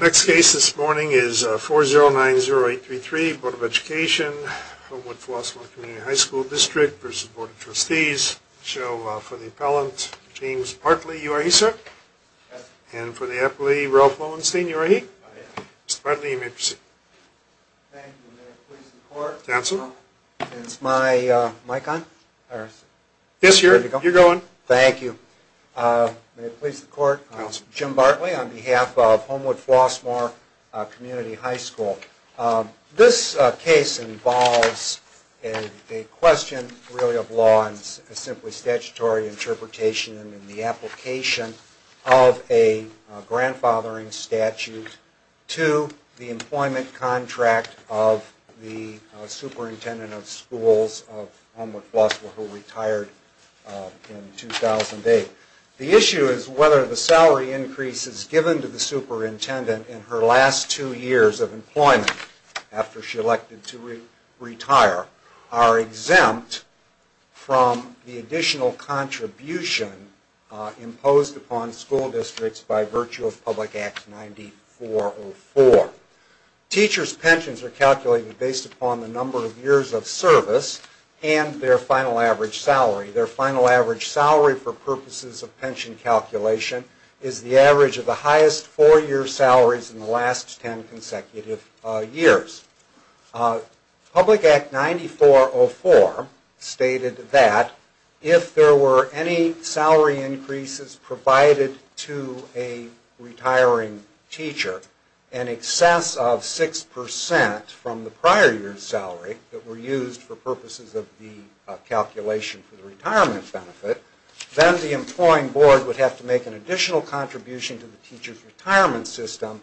Next case this morning is 4090833, Bd. of Education, Homewood-Flossmoor Community High School District v. Bd. of Trustees. So for the appellant, James Bartley. You are here, sir? Yes. And for the appellee, Ralph Lowenstein. You are here? I am. Mr. Bartley, you may proceed. Thank you. May it please the Court. Counsel. Is my mic on? Yes, you're going. Thank you. May it please the Court. Counsel. Jim Bartley on behalf of Homewood-Flossmoor Community High School. This case involves a question really of law and simply statutory interpretation in the application of a grandfathering statute to the employment contract of the superintendent of schools of Homewood-Flossmoor who retired in 2008. The issue is whether the salary increases given to the superintendent in her last two years of employment after she elected to retire are exempt from the additional contribution imposed upon school districts by virtue of Public Act 9404. Teachers' pensions are calculated based upon the number of years of service and their final average salary. Their final average salary for purposes of pension calculation is the average of the highest four-year salaries in the last ten consecutive years. Public Act 9404 stated that if there were any salary increases provided to a retiring teacher in excess of 6 percent from the prior year's salary that were used for purposes of the calculation for the retirement benefit, then the employing board would have to make an additional contribution to the teacher's retirement system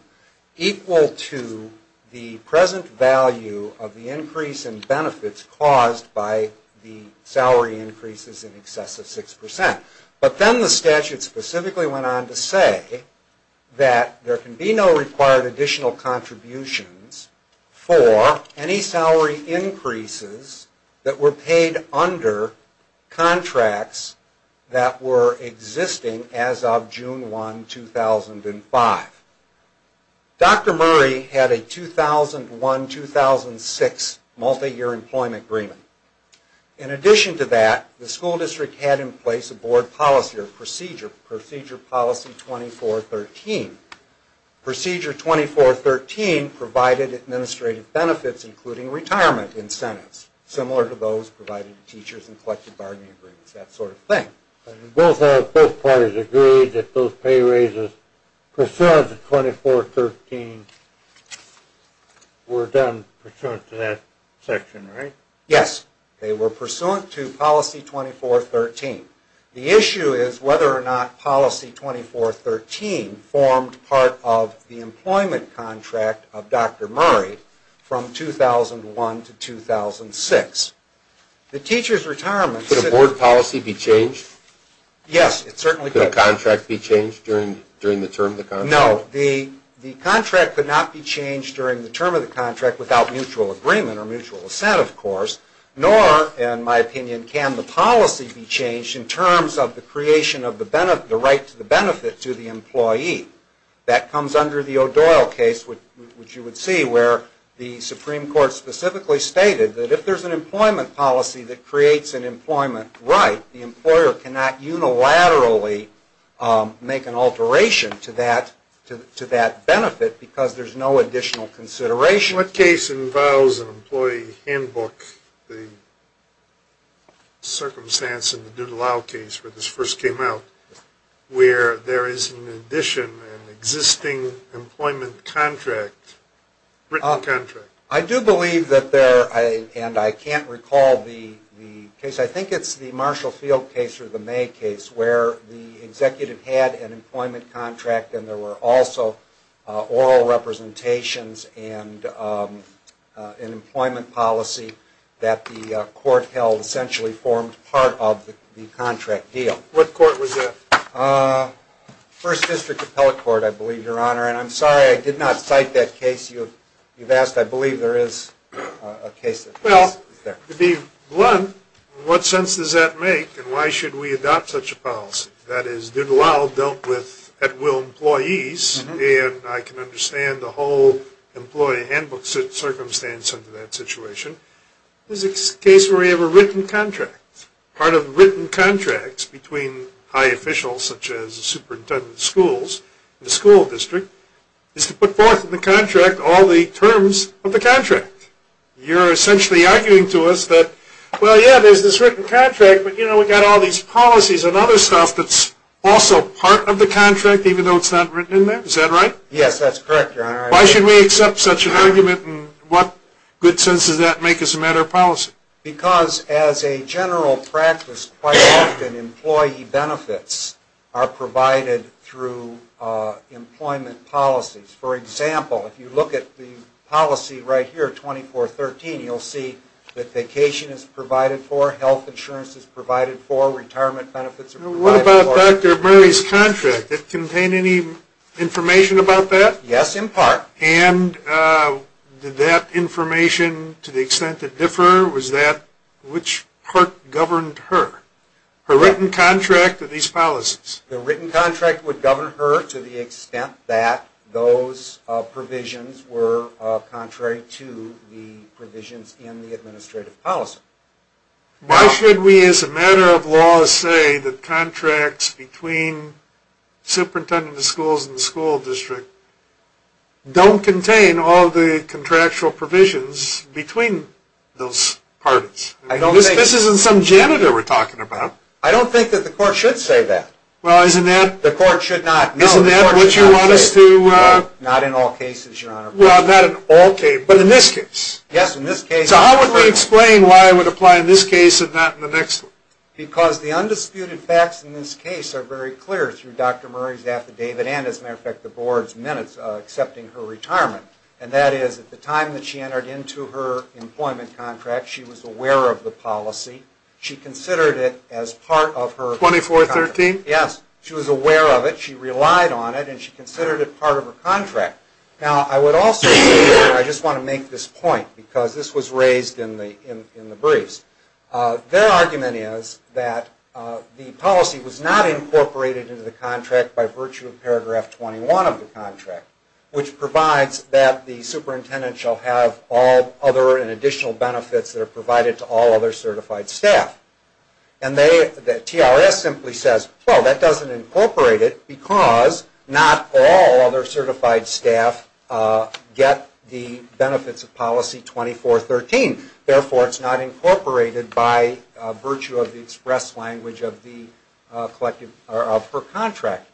equal to the present value of the increase in benefits caused by the salary increases in excess of 6 percent. But then the statute specifically went on to say that there can be no required additional contributions for any salary increases that were paid under contracts that were existing as of June 1, 2005. Dr. Murray had a 2001-2006 multi-year employment agreement. In addition to that, the school district had in place a board policy or procedure, Procedure Policy 2413. Procedure 2413 provided administrative benefits including retirement incentives, similar to those provided to teachers in collective bargaining agreements, that sort of thing. Both parties agreed that those pay raises pursuant to 2413 were done pursuant to that section, right? Yes, they were pursuant to Policy 2413. The issue is whether or not Policy 2413 formed part of the employment contract of Dr. Murray from 2001 to 2006. Could a board policy be changed? Yes, it certainly could. Could a contract be changed during the term of the contract? No, the contract could not be changed during the term of the contract without mutual agreement or mutual assent, of course. Nor, in my opinion, can the policy be changed in terms of the creation of the right to the benefit to the employee. That comes under the O'Doyle case, which you would see, where the Supreme Court specifically stated that if there's an employment policy that creates an employment right, the employer cannot unilaterally make an alteration to that benefit because there's no additional consideration. What case involves an employee handbook, the circumstance in the Duda-Lau case where this first came out, where there is in addition an existing employment contract, written contract? I do believe that there, and I can't recall the case. I think it's the Marshall Field case or the May case where the executive had an employment contract and there were also oral representations and an employment policy that the court held essentially formed part of the contract deal. What court was that? First District Appellate Court, I believe, Your Honor. And I'm sorry I did not cite that case you've asked. I believe there is a case that is there. Well, to be blunt, what sense does that make and why should we adopt such a policy? That is, Duda-Lau dealt with at-will employees, and I can understand the whole employee handbook circumstance under that situation. This is a case where we have a written contract. Part of written contracts between high officials such as the superintendent of schools, the school district, is to put forth in the contract all the terms of the contract. You're essentially arguing to us that, well, yeah, there's this written contract, but, you know, we've got all these policies and other stuff that's also part of the contract even though it's not written in there. Is that right? Yes, that's correct, Your Honor. Why should we accept such an argument and what good sense does that make as a matter of policy? Because as a general practice, quite often employee benefits are provided through employment policies. For example, if you look at the policy right here, 2413, you'll see that vacation is provided for, health insurance is provided for, retirement benefits are provided for. What about Dr. Murray's contract? Did it contain any information about that? Yes, in part. And did that information, to the extent it differ, was that which part governed her? Her written contract or these policies? The written contract would govern her to the extent that those provisions were contrary to the provisions in the administrative policy. Why should we, as a matter of law, say that contracts between superintendents of schools and the school district don't contain all the contractual provisions between those parties? This isn't some janitor we're talking about. I don't think that the court should say that. Well, isn't that... The court should not. Isn't that what you want us to... Not in all cases, Your Honor. Well, not in all cases, but in this case. Yes, in this case. So how would you explain why it would apply in this case and not in the next one? Because the undisputed facts in this case are very clear through Dr. Murray's affidavit and, as a matter of fact, the Board's minutes accepting her retirement. And that is, at the time that she entered into her employment contract, she was aware of the policy. She considered it as part of her contract. 2413? Yes. She was aware of it. She relied on it, and she considered it part of her contract. Now, I would also say, and I just want to make this point, because this was raised in the briefs. Their argument is that the policy was not incorporated into the contract by virtue of paragraph 21 of the contract, which provides that the superintendent shall have all other and additional benefits that are provided to all other certified staff. And TRS simply says, well, that doesn't incorporate it because not all other certified staff get the benefits of policy 2413. Therefore, it's not incorporated by virtue of the express language of her contract.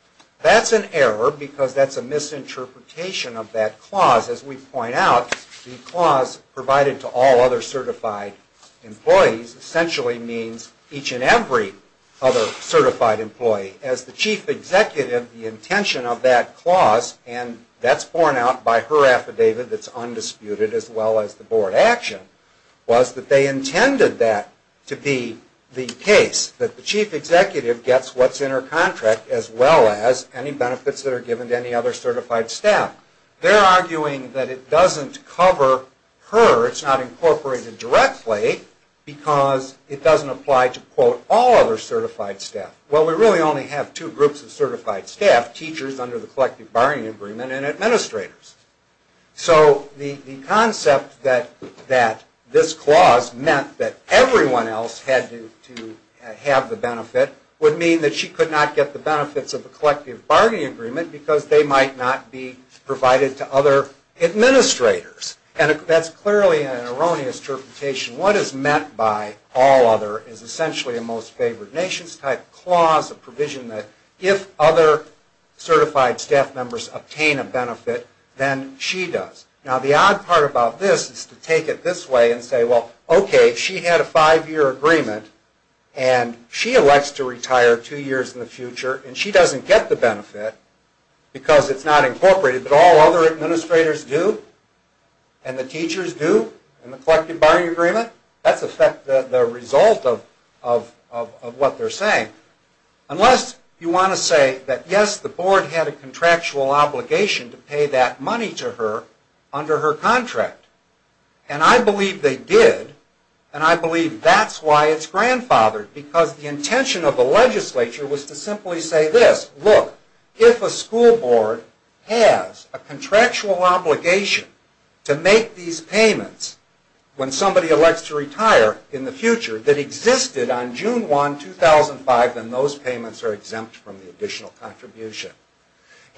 That's an error because that's a misinterpretation of that clause. As we point out, the clause provided to all other certified employees essentially means each and every other certified employee. As the chief executive, the intention of that clause, and that's borne out by her affidavit that's undisputed, as well as the Board action, was that they intended that to be the case, that the chief executive gets what's in her contract as well as any benefits that are given to any other certified staff. They're arguing that it doesn't cover her. It's not incorporated directly because it doesn't apply to, quote, all other certified staff. Well, we really only have two groups of certified staff, teachers under the collective bargaining agreement and administrators. So the concept that this clause meant that everyone else had to have the benefit would mean that she could not get the benefits of the collective bargaining agreement because they might not be provided to other administrators. And that's clearly an erroneous interpretation. What is meant by all other is essentially a most favored nations type clause, a provision that if other certified staff members obtain a benefit, then she does. Now, the odd part about this is to take it this way and say, well, okay, she had a five-year agreement, and she elects to retire two years in the future, and she doesn't get the benefit because it's not incorporated, but all other administrators do and the teachers do in the collective bargaining agreement. That's the result of what they're saying, unless you want to say that, yes, the Board had a contractual obligation to pay that money to her under her contract. And I believe they did, and I believe that's why it's grandfathered, because the intention of the legislature was to simply say this. Look, if a school board has a contractual obligation to make these payments when somebody elects to retire in the future that existed on June 1, 2005, then those payments are exempt from the additional contribution.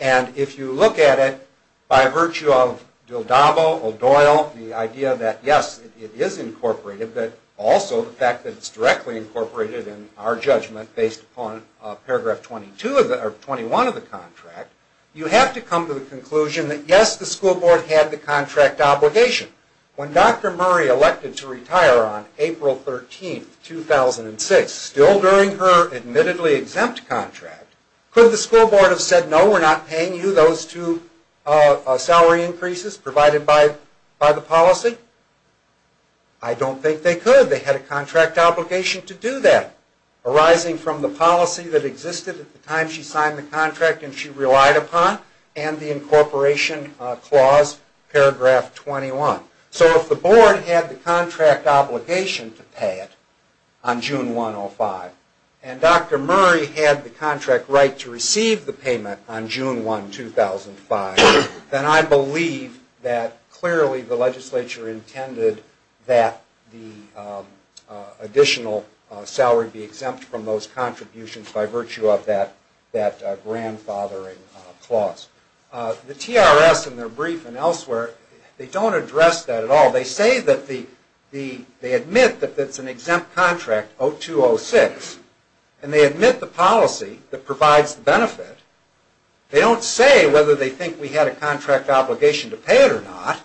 And if you look at it by virtue of Dildabo, O'Doyle, the idea that, yes, it is incorporated, but also the fact that it's directly incorporated in our judgment based upon paragraph 21 of the contract, you have to come to the conclusion that, yes, the school board had the contract obligation. When Dr. Murray elected to retire on April 13, 2006, still during her admittedly exempt contract, could the school board have said, no, we're not paying you those two salary increases provided by the policy? I don't think they could. They had a contract obligation to do that, arising from the policy that existed at the time she signed the contract and she relied upon, and the incorporation clause, paragraph 21. So if the board had the contract obligation to pay it on June 1, 2005, and Dr. Murray had the contract right to receive the payment on June 1, 2005, then I believe that clearly the legislature intended that the additional salary be exempt from those contributions by virtue of that grandfathering clause. The TRS in their brief and elsewhere, they don't address that at all. They say that the, they admit that it's an exempt contract, 0206, and they admit the policy that provides the benefit. They don't say whether they think we had a contract obligation to pay it or not,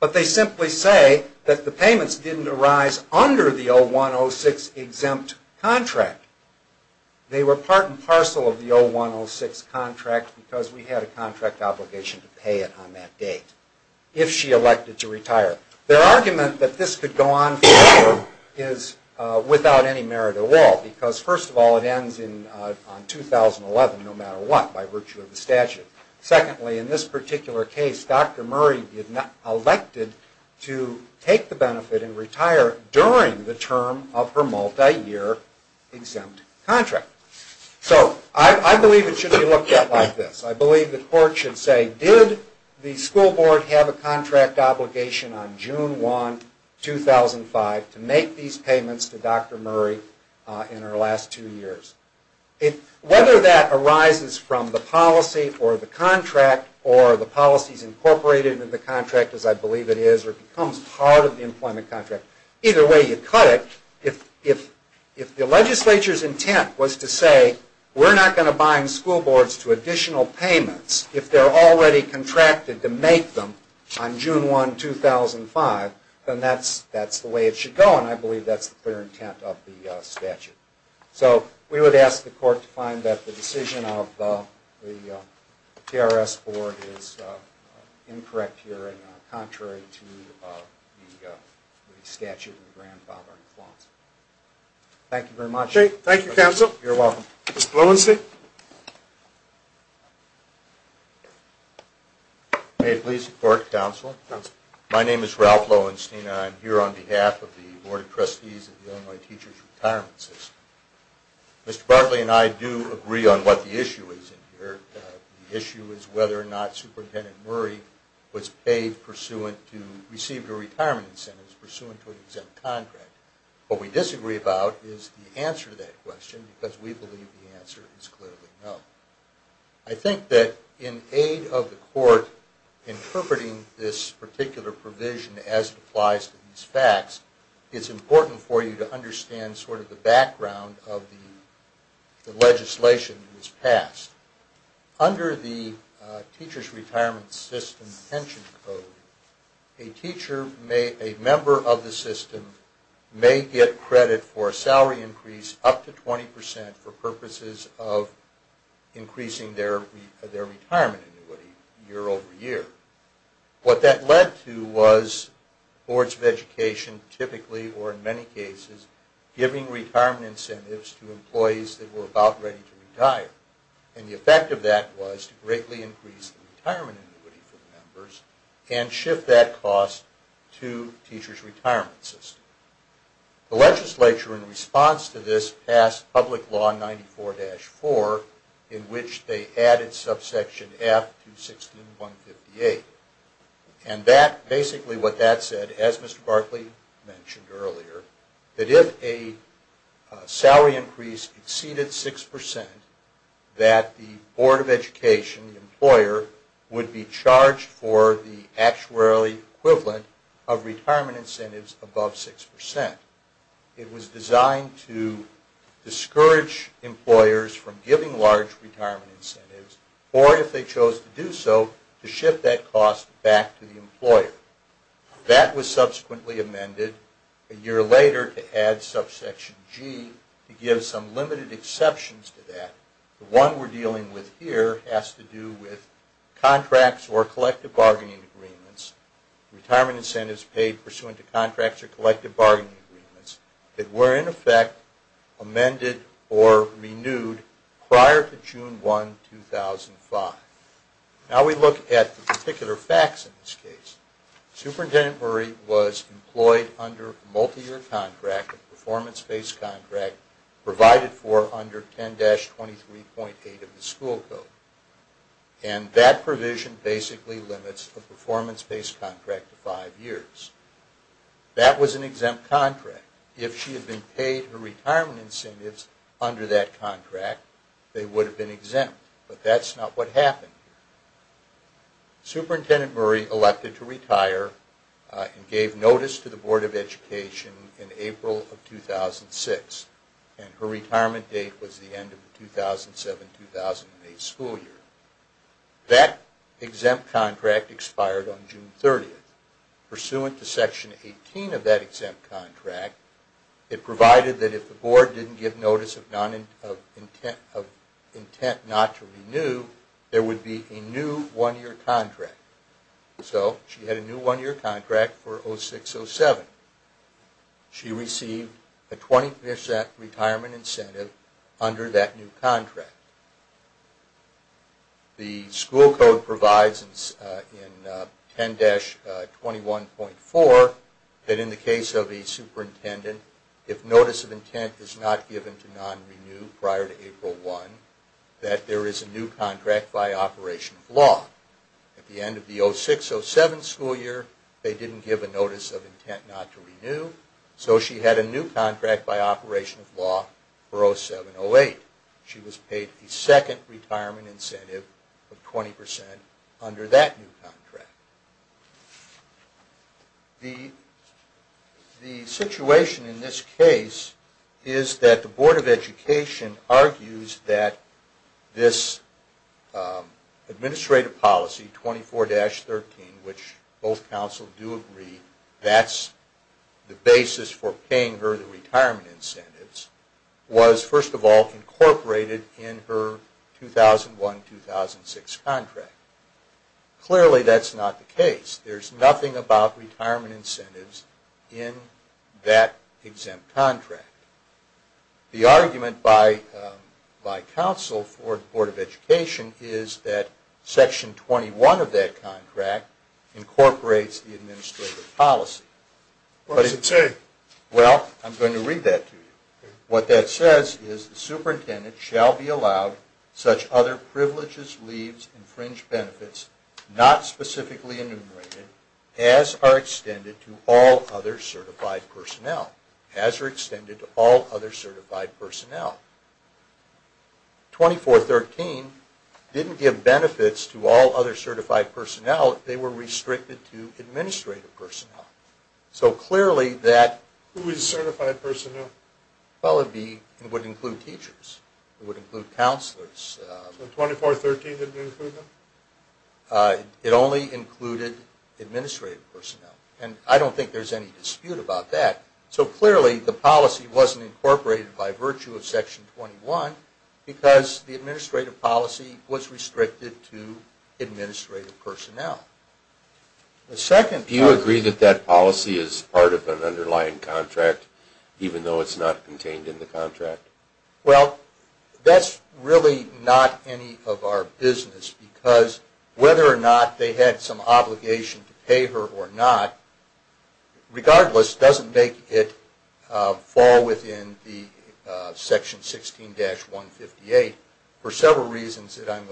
but they simply say that the payments didn't arise under the 0106 exempt contract. They were part and parcel of the 0106 contract because we had a contract obligation to pay it on that date, if she elected to retire. Their argument that this could go on forever is without any merit at all, because first of all, it ends on 2011, no matter what, by virtue of the statute. Secondly, in this particular case, Dr. Murray elected to take the benefit and retire during the term of her multi-year exempt contract. So I believe it should be looked at like this. I believe the court should say, did the school board have a contract obligation on June 1, 2005, to make these payments to Dr. Murray in her last two years? Whether that arises from the policy or the contract or the policies incorporated in the contract, as I believe it is, or becomes part of the employment contract, either way you cut it. If the legislature's intent was to say, we're not going to bind school boards to additional payments if they're already contracted to make them on June 1, 2005, then that's the way it should go, and I believe that's the clear intent of the statute. So we would ask the court to find that the decision of the TRS board is incorrect here and contrary to the statute in the grandfathered clause. Thank you very much. Thank you, counsel. You're welcome. Mr. Lowenstein. May it please the court, counsel. My name is Ralph Lowenstein, and I'm here on behalf of the Board of Trustees of the Illinois Teachers Retirement System. Mr. Bartley and I do agree on what the issue is here. The issue is whether or not Superintendent Murray was paid pursuant to, received a retirement incentive pursuant to an exempt contract. What we disagree about is the answer to that question, because we believe the answer is clearly no. I think that in aid of the court interpreting this particular provision as it applies to these facts, it's important for you to understand sort of the background of the legislation that was passed. Under the Teachers Retirement System pension code, a member of the system may get credit for a salary increase up to 20% for purposes of increasing their retirement annuity year over year. What that led to was boards of education typically, or in many cases, giving retirement incentives to employees that were about ready to retire. And the effect of that was to greatly increase the retirement annuity for members and shift that cost to Teachers Retirement System. The legislature, in response to this, passed Public Law 94-4, in which they added subsection F to 16158. And that, basically what that said, as Mr. Barclay mentioned earlier, that if a salary increase exceeded 6%, that the board of education, the employer, would be charged for the actuary equivalent of retirement incentives above 6%. It was designed to discourage employers from giving large retirement incentives or, if they chose to do so, to shift that cost back to the employer. That was subsequently amended a year later to add subsection G to give some limited exceptions to that. The one we're dealing with here has to do with contracts or collective bargaining agreements. Retirement incentives paid pursuant to contracts or collective bargaining agreements that were, in effect, amended or renewed prior to June 1, 2005. Now we look at the particular facts in this case. Superintendent Murray was employed under a multi-year contract, a performance-based contract, provided for under 10-23.8 of the school code. And that provision basically limits a performance-based contract to five years. That was an exempt contract. If she had been paid her retirement incentives under that contract, they would have been exempt. But that's not what happened. Superintendent Murray elected to retire and gave notice to the board of education in April of 2006. And her retirement date was the end of the 2007-2008 school year. That exempt contract expired on June 30. Pursuant to Section 18 of that exempt contract, it provided that if the board didn't give notice of intent not to renew, there would be a new one-year contract. So she had a new one-year contract for 2006-2007. She received a 20% retirement incentive under that new contract. The school code provides in 10-21.4 that in the case of a superintendent, if notice of intent is not given to non-renew prior to April 1, that there is a new contract by operation of law. At the end of the 2006-2007 school year, they didn't give a notice of intent not to renew. So she had a new contract by operation of law for 2007-2008. She was paid a second retirement incentive of 20% under that new contract. The situation in this case is that the board of education argues that this administrative policy, 24-13, which both councils do agree that's the basis for paying her the retirement incentives, was first of all incorporated in her 2001-2006 contract. Clearly that's not the case. There's nothing about retirement incentives in that exempt contract. The argument by council for the board of education is that Section 21 of that contract incorporates the administrative policy. What does it say? Well, I'm going to read that to you. What that says is the superintendent shall be allowed such other privileges, leaves, and fringe benefits, not specifically enumerated, as are extended to all other certified personnel. As are extended to all other certified personnel. 24-13 didn't give benefits to all other certified personnel. They were restricted to administrative personnel. Who is certified personnel? Well, it would include teachers. It would include counselors. So 24-13 didn't include them? It only included administrative personnel. And I don't think there's any dispute about that. So clearly the policy wasn't incorporated by virtue of Section 21 because the administrative policy was restricted to administrative personnel. Do you agree that that policy is part of an underlying contract even though it's not contained in the contract? Well, that's really not any of our business because whether or not they had some obligation to pay her or not, regardless, doesn't make it fall within the Section 16-158 for several reasons that I'm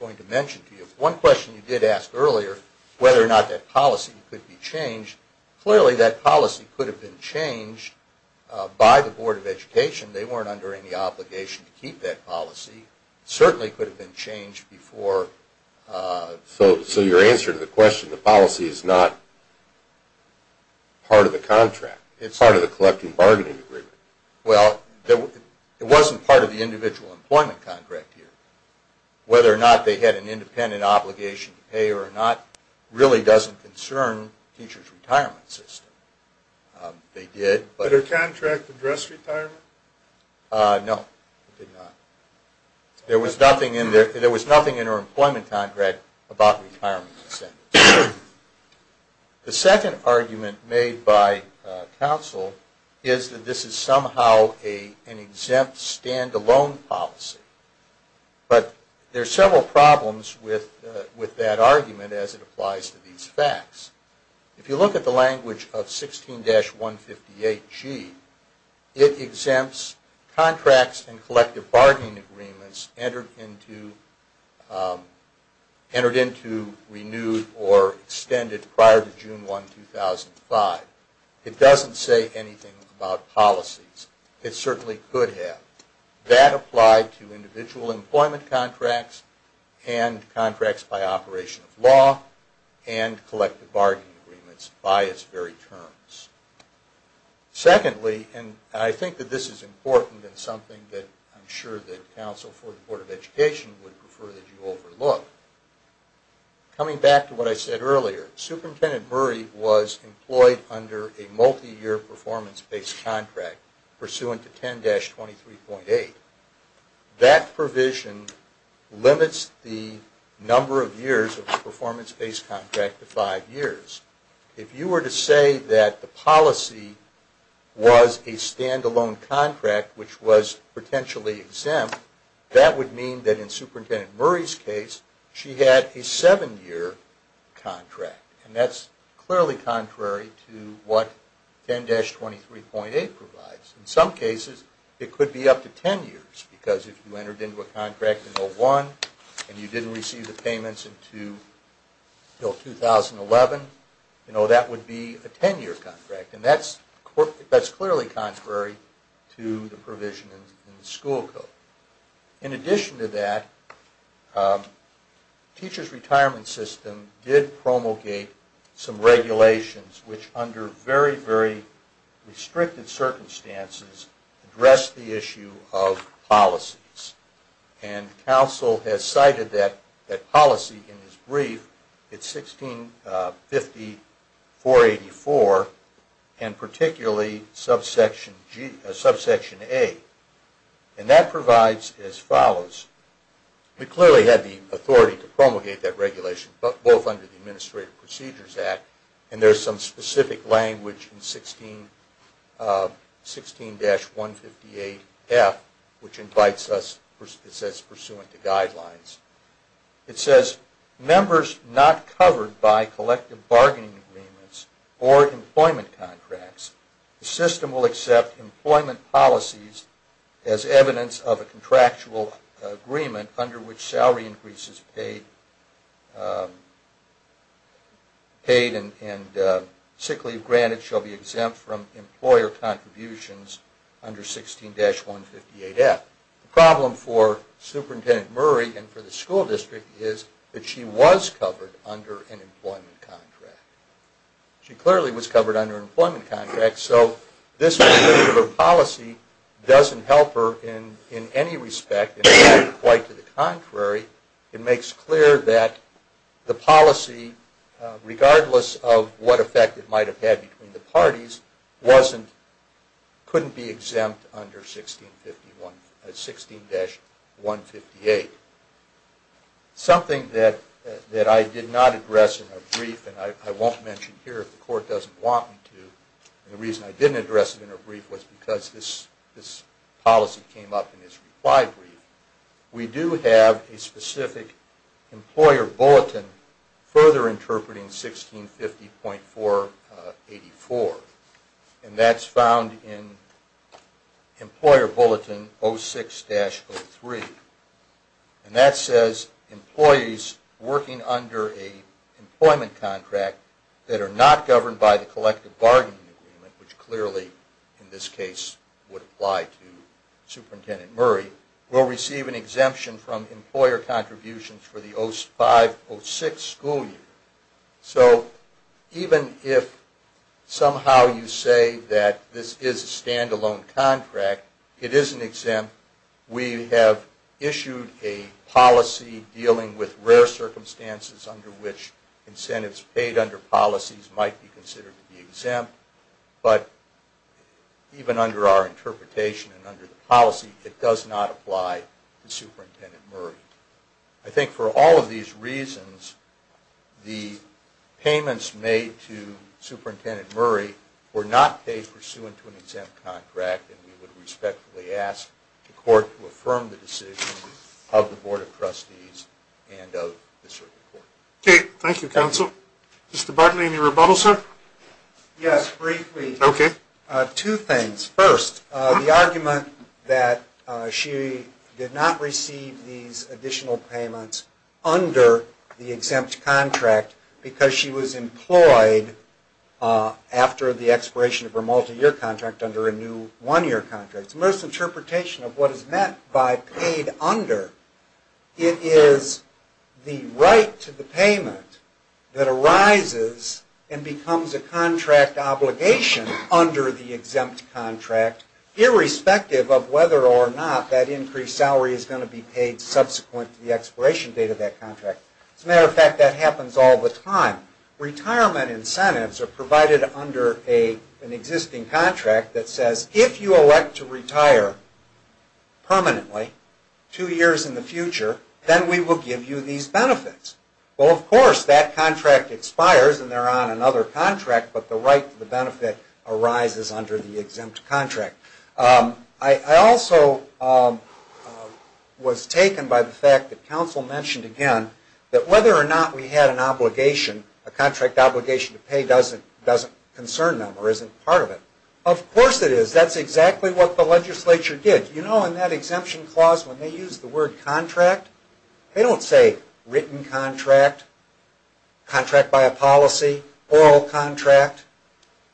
going to mention to you. One question you did ask earlier, whether or not that policy could be changed, clearly that policy could have been changed by the Board of Education. They weren't under any obligation to keep that policy. It certainly could have been changed before. So your answer to the question, the policy is not part of the contract, part of the collecting bargaining agreement? Well, it wasn't part of the individual employment contract here. Whether or not they had an independent obligation to pay her or not really doesn't concern teachers' retirement system. Did her contract address retirement? No, it did not. There was nothing in her employment contract about retirement incentives. The second argument made by counsel is that this is somehow an exempt stand-alone policy. But there are several problems with that argument as it applies to these facts. If you look at the language of 16-158G, it exempts contracts and collective bargaining agreements entered into, renewed or extended prior to June 1, 2005. It doesn't say anything about policies. It certainly could have. That applied to individual employment contracts and contracts by operation of law and collective bargaining agreements by its very terms. Secondly, and I think that this is important and something that I'm sure that counsel for the Board of Education would prefer that you overlook, coming back to what I said earlier, Superintendent Murray was employed under a multi-year performance-based contract pursuant to 10-23.8. That provision limits the number of years of the performance-based contract to five years. If you were to say that the policy was a stand-alone contract which was potentially exempt, that would mean that in Superintendent Murray's case, she had a seven-year contract. And that's clearly contrary to what 10-23.8 provides. In some cases, it could be up to ten years because if you entered into a contract in 2001 and you didn't receive the payments until 2011, that would be a ten-year contract. And that's clearly contrary to the provision in the school code. In addition to that, Teachers Retirement System did promulgate some regulations which, under very, very restricted circumstances, addressed the issue of policies. And counsel has cited that policy in his brief. It's 1650.484 and particularly subsection A. And that provides as follows. We clearly had the authority to promulgate that regulation both under the Administrative Procedures Act and there's some specific language in 16-158F which invites us, it says, pursuant to guidelines. It says, members not covered by collective bargaining agreements or employment contracts, the system will accept employment policies as evidence of a contractual agreement under which salary increases paid and sick leave granted shall be exempt from employer contributions under 16-158F. The problem for Superintendent Murray and for the school district is that she was covered under an employment contract. She clearly was covered under an employment contract, so this particular policy doesn't help her in any respect. In fact, quite to the contrary, it makes clear that the policy, regardless of what effect it might have had between the parties, couldn't be exempt under 16-158. Something that I did not address in her brief, and I won't mention here if the court doesn't want me to, and the reason I didn't address it in her brief was because this policy came up in his reply brief, we do have a specific employer bulletin further interpreting 1650.484. And that's found in Employer Bulletin 06-03. And that says employees working under an employment contract that are not governed by the collective bargaining agreement, which clearly in this case would apply to Superintendent Murray, will receive an exemption from employer contributions for the 05-06 school year. So even if somehow you say that this is a stand-alone contract, it isn't exempt. We have issued a policy dealing with rare circumstances under which incentives paid under policies might be considered to be exempt. But even under our interpretation and under the policy, it does not apply to Superintendent Murray. I think for all of these reasons, the payments made to Superintendent Murray were not paid pursuant to an exempt contract, and we would respectfully ask the court to affirm the decision of the Board of Trustees and of the Circuit Court. Okay, thank you, Counsel. Mr. Bartley, any rebuttal, sir? Yes, briefly. Okay. Two things. First, the argument that she did not receive these additional payments under the exempt contract because she was employed after the expiration of her multi-year contract under a new one-year contract. It's a misinterpretation of what is meant by paid under. It is the right to the payment that arises and becomes a contract obligation under the exempt contract, irrespective of whether or not that increased salary is going to be paid subsequent to the expiration date of that contract. As a matter of fact, that happens all the time. Retirement incentives are provided under an existing contract that says, if you elect to retire permanently two years in the future, then we will give you these benefits. Well, of course, that contract expires and they're on another contract, but the right to the benefit arises under the exempt contract. I also was taken by the fact that Counsel mentioned again that whether or not we had an obligation, a contract obligation to pay, doesn't concern them or isn't part of it. Of course it is. That's exactly what the legislature did. You know, in that exemption clause, when they use the word contract, they don't say written contract, contract by a policy, oral contract.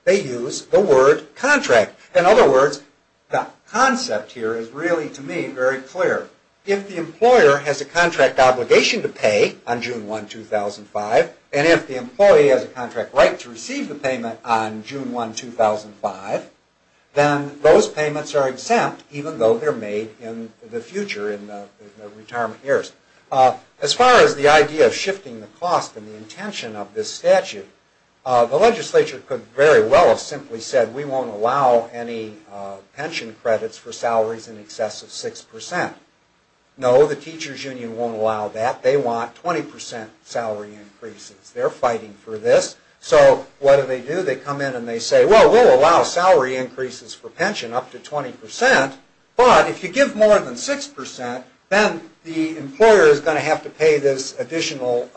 They use the word contract. In other words, the concept here is really, to me, very clear. If the employer has a contract obligation to pay on June 1, 2005, and if the employee has a contract right to receive the payment on June 1, 2005, then those payments are exempt, even though they're made in the future, in the retirement years. As far as the idea of shifting the cost and the intention of this statute, the legislature could very well have simply said, we won't allow any pension credits for salaries in excess of 6%. No, the teachers' union won't allow that. They want 20% salary increases. They're fighting for this. So what do they do? They come in and they say, well, we'll allow salary increases for pension up to 20%, but if you give more than 6%, then the employer is going to have to pay this additional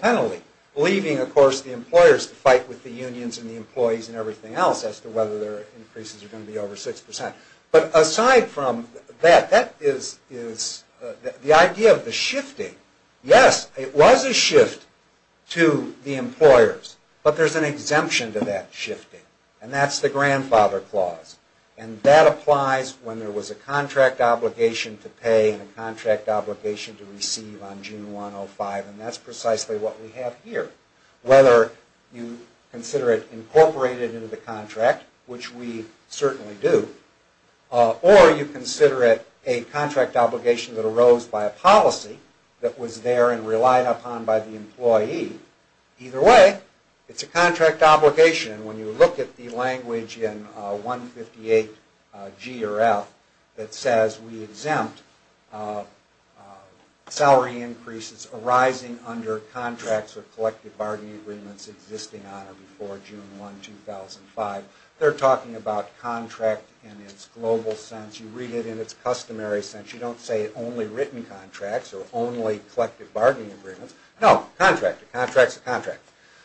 penalty, leaving, of course, the employers to fight with the unions and the employees and everything else as to whether their increases are going to be over 6%. But aside from that, that is the idea of the shifting. Yes, it was a shift to the employers, but there's an exemption to that shifting, and that's the grandfather clause. And that applies when there was a contract obligation to pay and a contract obligation to receive on June 1, 2005, and that's precisely what we have here. Whether you consider it incorporated into the contract, which we certainly do, or you consider it a contract obligation that arose by a policy that was there and relied upon by the employee, either way, it's a contract obligation. When you look at the language in 158G or F that says we exempt salary increases arising under contracts or collective bargaining agreements existing on or before June 1, 2005, they're talking about contract in its global sense. You read it in its customary sense. You don't say only written contracts or only collective bargaining agreements. No, contract, a contract is a contract.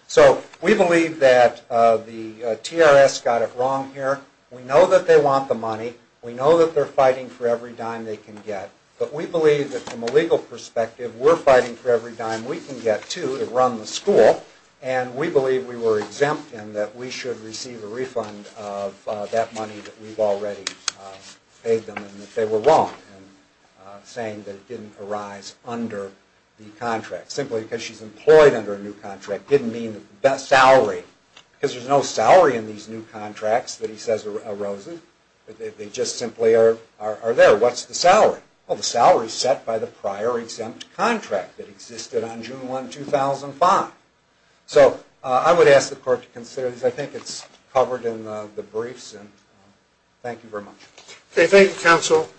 So we believe that the TRS got it wrong here. We know that they want the money. We know that they're fighting for every dime they can get, but we believe that from a legal perspective we're fighting for every dime we can get, too, to run the school, and we believe we were exempt and that we should receive a refund of that money that we've already paid them and that they were wrong in saying that it didn't arise under the contract. Simply because she's employed under a new contract didn't mean the best salary because there's no salary in these new contracts that he says arose. They just simply are there. What's the salary? Well, the salary is set by the prior exempt contract that existed on June 1, 2005. So I would ask the court to consider this. I think it's covered in the briefs, and thank you very much. Okay, thank you, counsel.